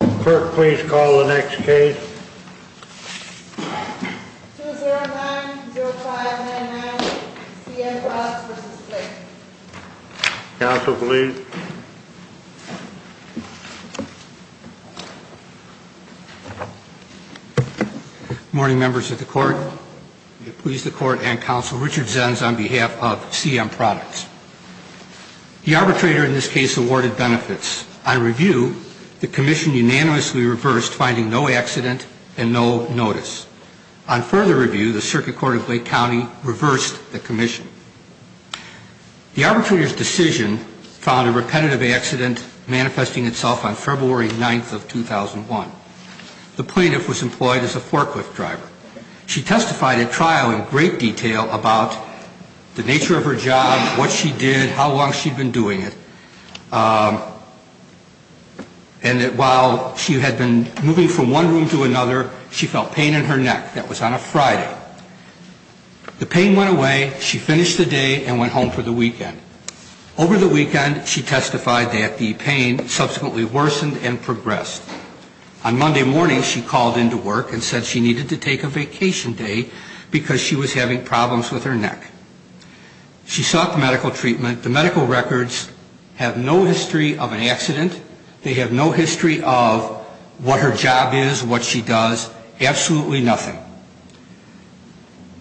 Clerk, please call the next case. 2090599, C.M. Products v. Flake Counsel, please. Good morning, members of the Court. We please the Court and Counsel Richard Zenz on behalf of C.M. Products. The arbitrator in this case awarded benefits. On review, the Commission unanimously reversed finding no accident and no notice. On further review, the Circuit Court of Lake County reversed the Commission. The arbitrator's decision found a repetitive accident manifesting itself on February 9th of 2001. The plaintiff was employed as a forklift driver. She testified at trial in great detail about the nature of her job, what she did, how long she'd been doing it, and that while she had been moving from one room to another, she felt pain in her neck. That was on a Friday. The pain went away. She finished the day and went home for the weekend. Over the weekend, she testified that the pain subsequently worsened and progressed. On Monday morning, she called into work and said she needed to take a vacation day because she was having problems with her neck. She sought medical treatment. The medical records have no history of an accident. They have no history of what her job is, what she does, absolutely nothing.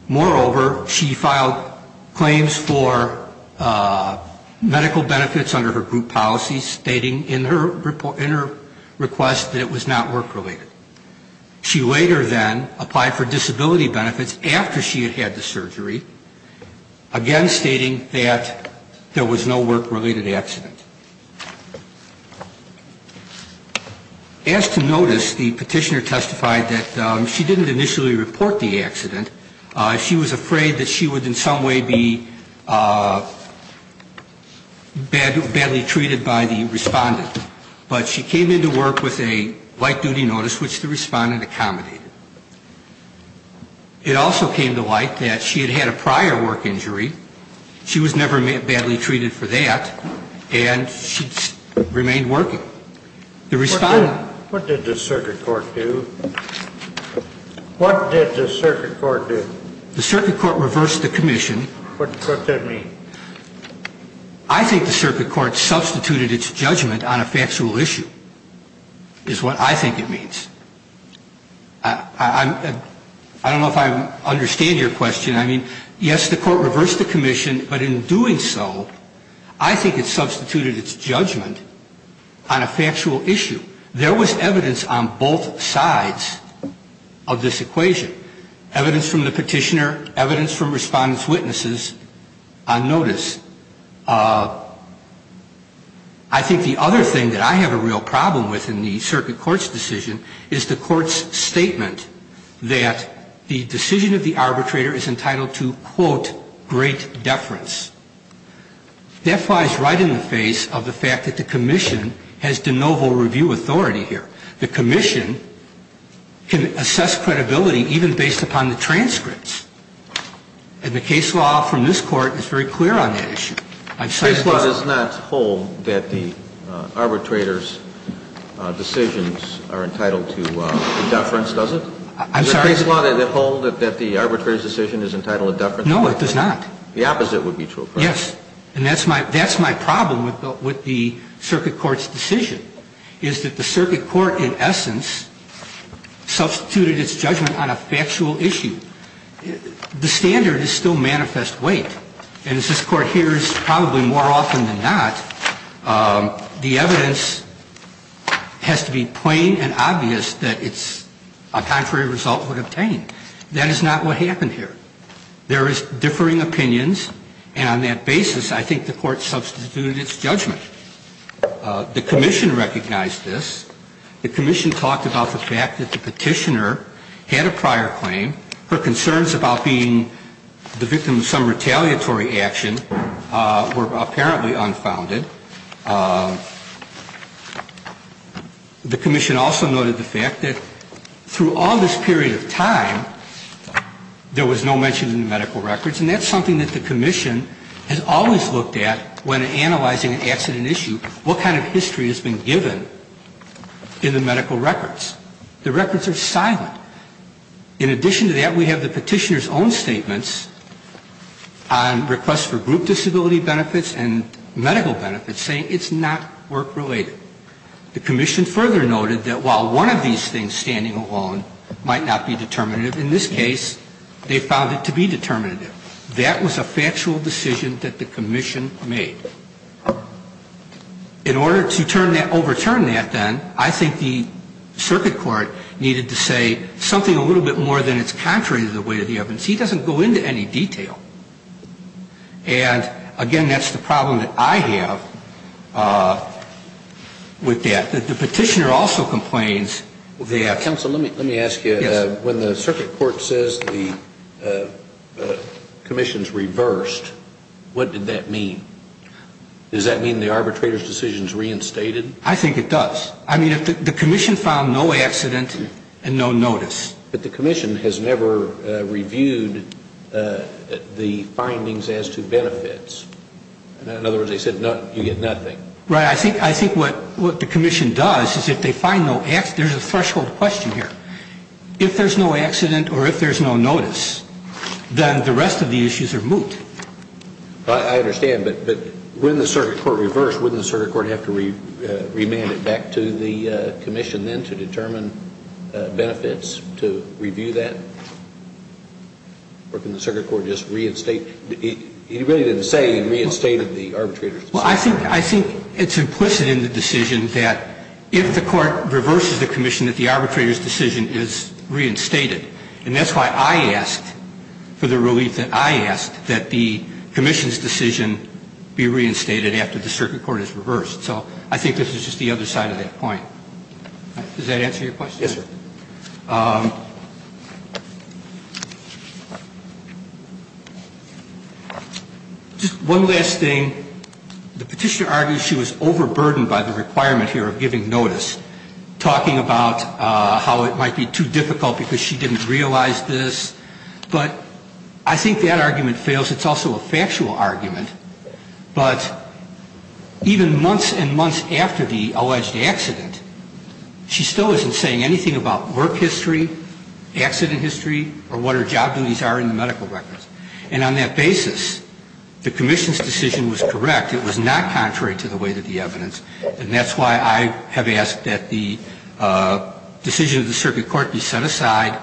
Moreover, she filed claims for medical benefits under her group policy, stating in her request that it was not work-related. She later then applied for disability benefits after she had had the surgery, again stating that there was no work-related accident. As to notice, the petitioner testified that she didn't initially report the accident. She was afraid that she would in some way be badly treated by the respondent. But she came into work with a light-duty notice, which the respondent accommodated. It also came to light that she had had a prior work injury. She was never badly treated for that. And she remained working. The respondent — What did the circuit court do? What did the circuit court do? The circuit court reversed the commission. What does that mean? I think the circuit court substituted its judgment on a factual issue is what I think it means. I don't know if I understand your question. I mean, yes, the court reversed the commission. But in doing so, I think it substituted its judgment on a factual issue. There was evidence on both sides of this equation, evidence from the petitioner, evidence from respondent's witnesses on notice. I think the other thing that I have a real problem with in the circuit court's decision is the court's statement that the decision of the arbitrator is entitled to, quote, great deference. That flies right in the face of the fact that the commission has de novo review authority here. The commission can assess credibility even based upon the transcripts. And the case law from this Court is very clear on that issue. Case law does not hold that the arbitrator's decisions are entitled to deference, does it? I'm sorry? Does the case law hold that the arbitrator's decision is entitled to deference? No, it does not. The opposite would be true, correct? Yes. And that's my problem with the circuit court's decision, is that the circuit court in essence substituted its judgment on a factual issue. The standard is still manifest weight. And as this Court hears probably more often than not, the evidence has to be plain and obvious that it's a contrary result would obtain. That is not what happened here. There is differing opinions. And on that basis, I think the Court substituted its judgment. The commission recognized this. The commission talked about the fact that the petitioner had a prior claim. Her concerns about being the victim of some retaliatory action were apparently unfounded. The commission also noted the fact that through all this period of time, there was no mention in the medical records. And that's something that the commission has always looked at when analyzing an accident issue, what kind of history has been given in the medical records. The records are silent. In addition to that, we have the petitioner's own statements on requests for group disability benefits and medical benefits saying it's not work-related. The commission further noted that while one of these things standing alone might not be determinative, in this case, they found it to be determinative. That was a factual decision that the commission made. In order to overturn that, then, I think the circuit court needed to say something a little bit more than it's contrary to the weight of the evidence. He doesn't go into any detail. And, again, that's the problem that I have with that. The petitioner also complains that ‑‑ What did that mean? Does that mean the arbitrator's decision is reinstated? I think it does. I mean, the commission found no accident and no notice. But the commission has never reviewed the findings as to benefits. In other words, they said you get nothing. Right. I think what the commission does is if they find no ‑‑ there's a threshold question here. If there's no accident or if there's no notice, then the rest of the issues are moot. I understand. But when the circuit court reversed, wouldn't the circuit court have to remand it back to the commission then to determine benefits to review that? Or can the circuit court just reinstate? He really didn't say he reinstated the arbitrator's decision. Well, I think it's implicit in the decision that if the court reverses the commission that the arbitrator's decision is reinstated. And that's why I asked for the relief that I asked that the commission's decision be reinstated after the circuit court is reversed. So I think this is just the other side of that point. Does that answer your question? Yes, sir. Just one last thing. The petitioner argues she was overburdened by the requirement here of giving notice, talking about how it might be too difficult because she didn't realize this. But I think that argument fails. It's also a factual argument. But even months and months after the alleged accident, she still isn't saying anything about work history, accident history, or what her job duties are in the medical records. And on that basis, the commission's decision was correct. It was not contrary to the weight of the evidence. And that's why I have asked that the decision of the circuit court be set aside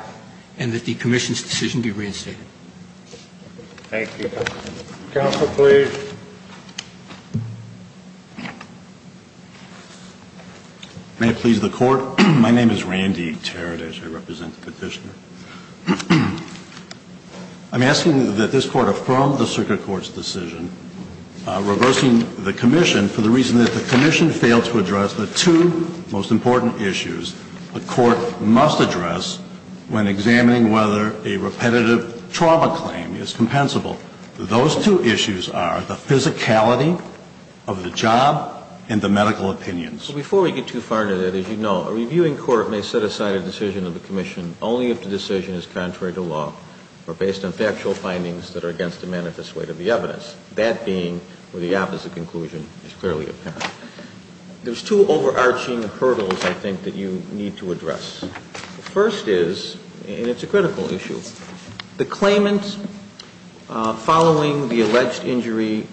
and that the commission's decision be reinstated. Thank you. Counsel, please. May it please the Court. My name is Randy Teradish. I represent the petitioner. I'm asking that this Court affirm the circuit court's decision reversing the commission for the reason that the commission failed to address the two most important issues the Court must address when examining whether a repetitive trauma claim is compensable. Those two issues are the physicality of the job and the medical opinions. Before we get too far into that, as you know, a reviewing court may set aside a decision of the commission only if the decision is contrary to law or based on factual findings that are against the manifest weight of the evidence, that being where the opposite conclusion is clearly apparent. There's two overarching hurdles, I think, that you need to address. The first is, and it's a critical issue, the claimant following the alleged injury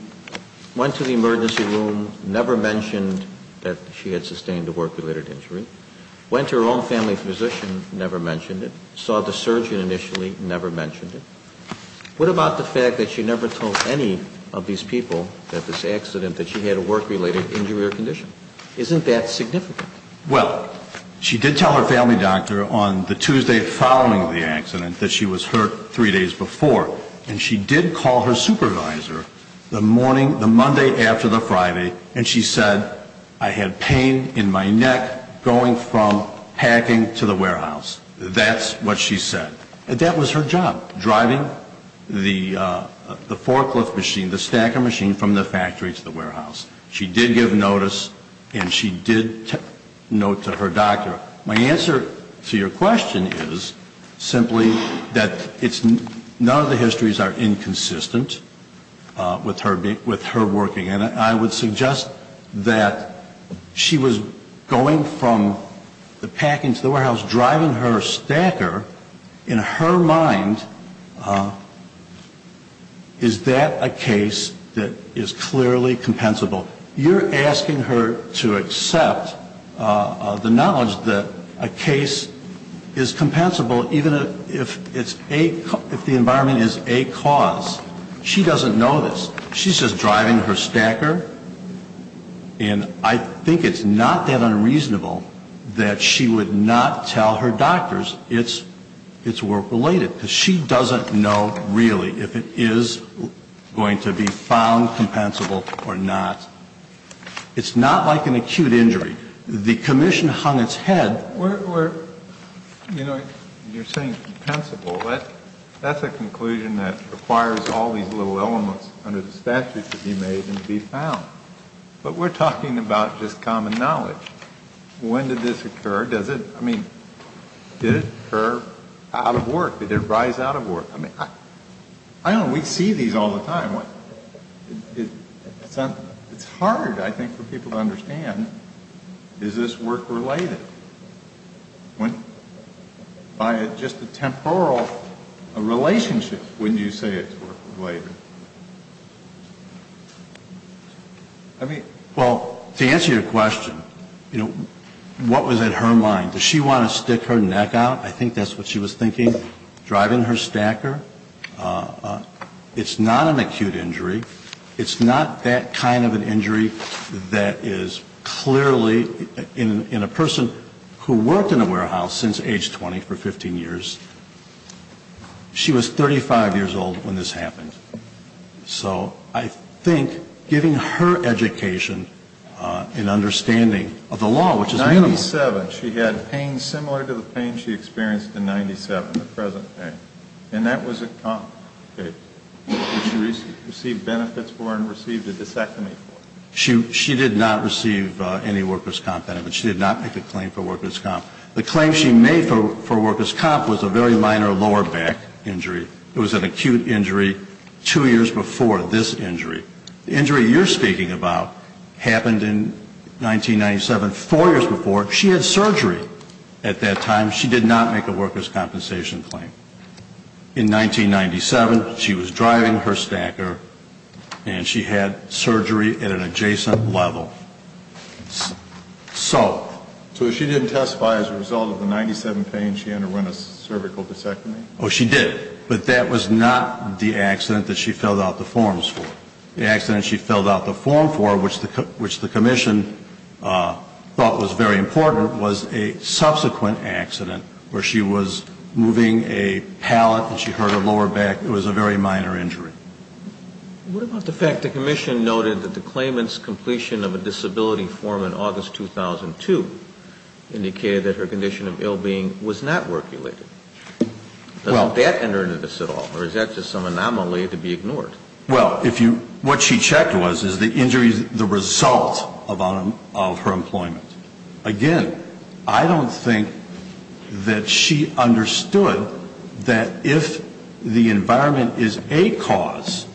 went to the emergency room, never mentioned that she had sustained a work-related injury, went to her own family physician, never mentioned it, saw the surgeon initially, never mentioned it. What about the fact that she never told any of these people that this accident, that she had a work-related injury or condition? Isn't that significant? Well, she did tell her family doctor on the Tuesday following the accident that she was hurt three days before, and she did call her supervisor the morning, the Monday after the Friday, and she said, I had pain in my neck going from packing to the warehouse. That's what she said. That was her job, driving the forklift machine, the stacker machine from the factory to the warehouse. She did give notice and she did note to her doctor. My answer to your question is simply that none of the histories are inconsistent with her working. And I would suggest that she was going from the packing to the warehouse, driving her stacker. In her mind, is that a case that is clearly compensable? You're asking her to accept the knowledge that a case is compensable even if it's a, if the environment is a cause. She doesn't know this. She's just driving her stacker, and I think it's not that unreasonable that she would not tell her doctors it's work-related, because she doesn't know really if it is going to be found compensable or not. It's not like an acute injury. The commission hung its head. We're, you know, you're saying compensable. That's a conclusion that requires all these little elements under the statute to be made and to be found. But we're talking about just common knowledge. When did this occur? Does it, I mean, did it occur out of work? Did it arise out of work? I mean, I don't know. We see these all the time. It's hard, I think, for people to understand, is this work-related? By just a temporal relationship, wouldn't you say it's work-related? I mean... Well, to answer your question, you know, what was in her mind? Did she want to stick her neck out? I think that's what she was thinking, driving her stacker. It's not an acute injury. It's not that kind of an injury that is clearly in a person who worked in a warehouse since age 20 for 15 years. She was 35 years old when this happened. So I think giving her education and understanding of the law, which is minimal. In 1997, she had pain similar to the pain she experienced in 97, the present pain. And that was a comp pain, which she received benefits for and received a disectomy for. She did not receive any workers' comp benefits. She did not make a claim for workers' comp. The claim she made for workers' comp was a very minor lower back injury. It was an acute injury two years before this injury. The injury you're speaking about happened in 1997, four years before. She had surgery at that time. She did not make a workers' compensation claim. In 1997, she was driving her stacker, and she had surgery at an adjacent level. So... So she didn't testify as a result of the 97 pain. She underwent a cervical disectomy. Oh, she did. But that was not the accident that she filled out the forms for. The accident she filled out the form for, which the commission thought was very important, was a subsequent accident where she was moving a palate and she hurt her lower back. It was a very minor injury. What about the fact the commission noted that the claimant's completion of a disability form in August 2002 indicated that her condition of ill-being was not work-related? Doesn't that enter into this at all, or is that just some anomaly to be ignored? Well, what she checked was, is the injury the result of her employment? Again, I don't think that she understood that if the environment is a cause,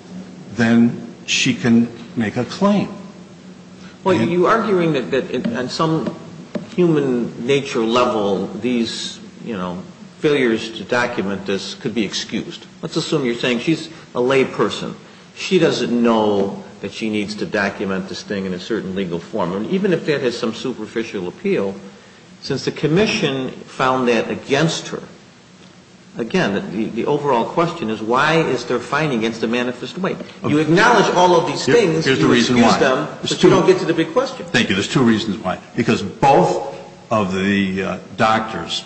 then she can make a claim. Well, you're arguing that on some human nature level, these, you know, failures to document this could be excused. Let's assume you're saying she's a lay person. She doesn't know that she needs to document this thing in a certain legal form. And even if that has some superficial appeal, since the commission found that against her, again, the overall question is why is there fighting against a manifest way? You acknowledge all of these things, you excuse them, but you don't get to the big question. Thank you. There's two reasons why. Because both of the doctors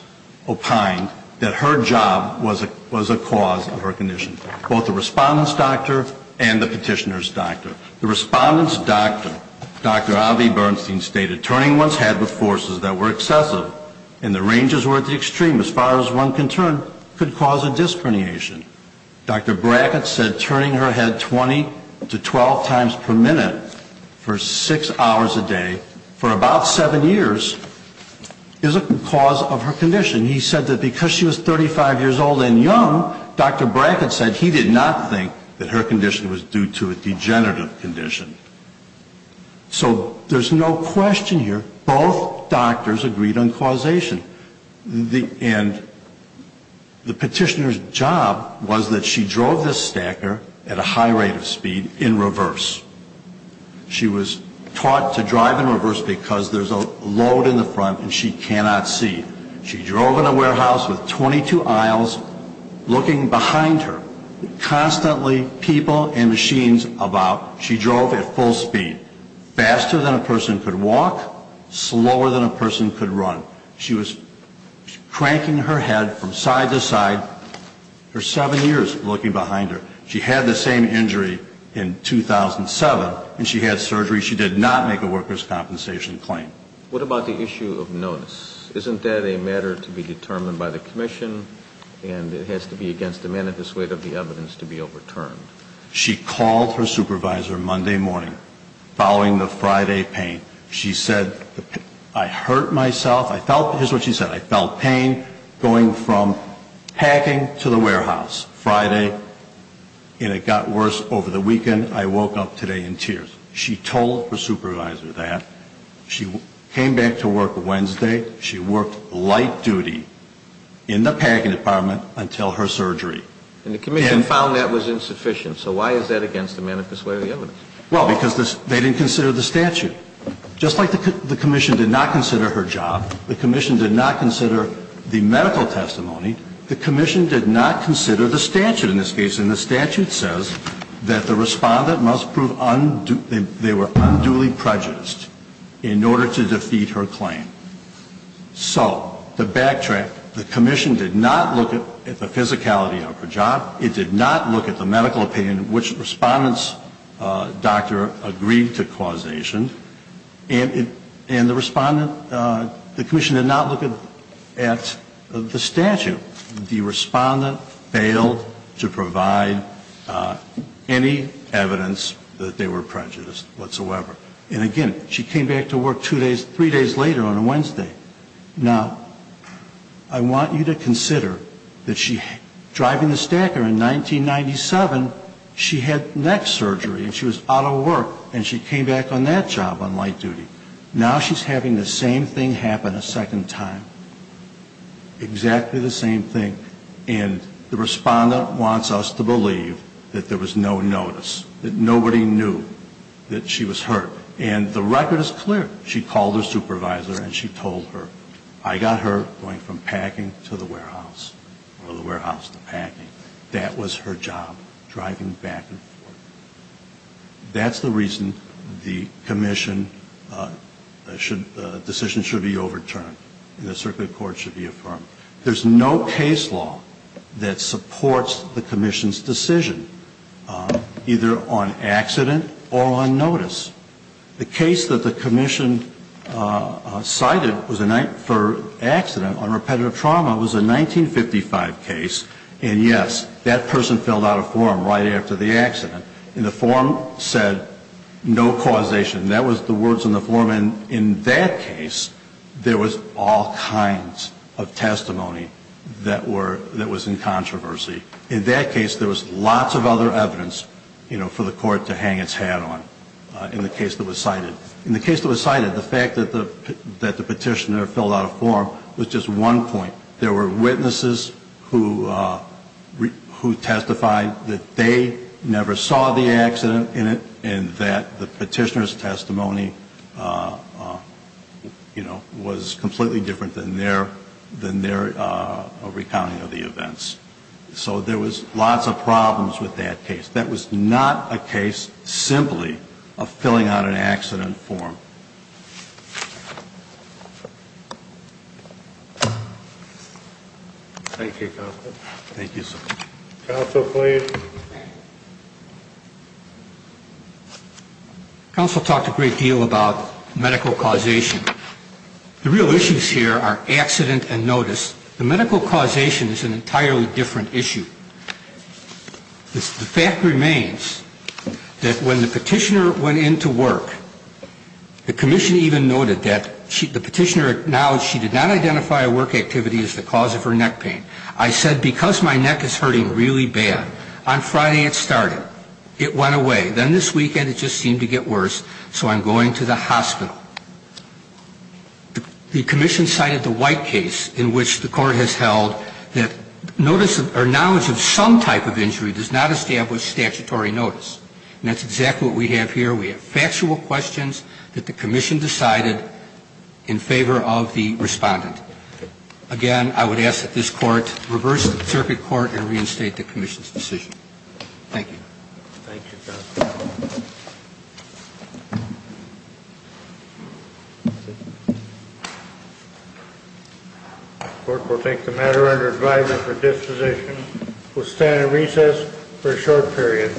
opined that her job was a cause of her condition, both the respondent's doctor and the petitioner's doctor. The respondent's doctor, Dr. Avi Bernstein, stated, turning one's head with forces that were excessive and the ranges were at the extreme, as far as one can turn, could cause a disc herniation. Dr. Brackett said turning her head 20 to 12 times per minute for six hours a day for about seven years is a cause of her condition. He said that because she was 35 years old and young, Dr. Brackett said he did not think that her condition was due to a degenerative condition. So there's no question here, both doctors agreed on causation. And the petitioner's job was that she drove this stacker at a high rate of speed in reverse. She was taught to drive in reverse because there's a load in the front and she cannot see. She drove in a warehouse with 22 aisles looking behind her, constantly people and machines about. She drove at full speed, faster than a person could walk, slower than a person could run. She was cranking her head from side to side for seven years looking behind her. She had the same injury in 2007, and she had surgery. She did not make a workers' compensation claim. What about the issue of notice? Isn't that a matter to be determined by the commission, and it has to be against the manifest weight of the evidence to be overturned? She called her supervisor Monday morning following the Friday pain. She said, I hurt myself. Here's what she said. I felt pain going from packing to the warehouse Friday, and it got worse over the weekend. I woke up today in tears. She told her supervisor that. She came back to work Wednesday. She worked light duty in the packing department until her surgery. And the commission found that was insufficient. So why is that against the manifest weight of the evidence? Well, because they didn't consider the statute. Just like the commission did not consider her job, the commission did not consider the medical testimony, the commission did not consider the statute in this case. And the statute says that the Respondent must prove they were unduly prejudiced in order to defeat her claim. So to backtrack, the commission did not look at the physicality of her job. It did not look at the medical opinion which Respondent's doctor agreed to causation. And the Respondent, the commission did not look at the statute. The Respondent failed to provide any evidence that they were prejudiced whatsoever. And, again, she came back to work two days, three days later on a Wednesday. Now, I want you to consider that she, driving the stacker in 1997, she had neck surgery and she was out of work and she came back on that job on light duty. Now she's having the same thing happen a second time, exactly the same thing. And the Respondent wants us to believe that there was no notice, that nobody knew that she was hurt. And the record is clear. She called her supervisor and she told her, I got hurt going from packing to the warehouse or the warehouse to packing. That was her job, driving back and forth. That's the reason the commission decision should be overturned and the circuit court should be affirmed. There's no case law that supports the commission's decision, either on accident or on notice. The case that the commission cited for accident on repetitive trauma was a 1955 case. And, yes, that person filled out a form right after the accident. And the form said no causation. That was the words on the form. When, in that case, there was all kinds of testimony that was in controversy. In that case, there was lots of other evidence for the court to hang its hat on in the case that was cited. In the case that was cited, the fact that the petitioner filled out a form was just one point. There were witnesses who testified that they never saw the accident in it and their testimony was completely different than their recounting of the events. So there was lots of problems with that case. That was not a case simply of filling out an accident form. Thank you, Counsel. Thank you, sir. Counsel, please. Counsel talked a great deal about medical causation. The real issues here are accident and notice. The medical causation is an entirely different issue. The fact remains that when the petitioner went into work, the commission even noted that the petitioner acknowledged she did not identify a work activity as the cause of her neck pain. I said, because my neck is hurting really bad, I'm going to have to go to the doctor. On Friday, it started. It went away. Then this weekend, it just seemed to get worse, so I'm going to the hospital. The commission cited the White case in which the court has held that notice or knowledge of some type of injury does not establish statutory notice. And that's exactly what we have here. We have factual questions that the commission decided in favor of the respondent. Again, I would ask that this court reverse the circuit court and reinstate the commission's decision. Thank you. Thank you, Counsel. The court will take the matter under advisement for disposition. We'll stand at recess for a short period.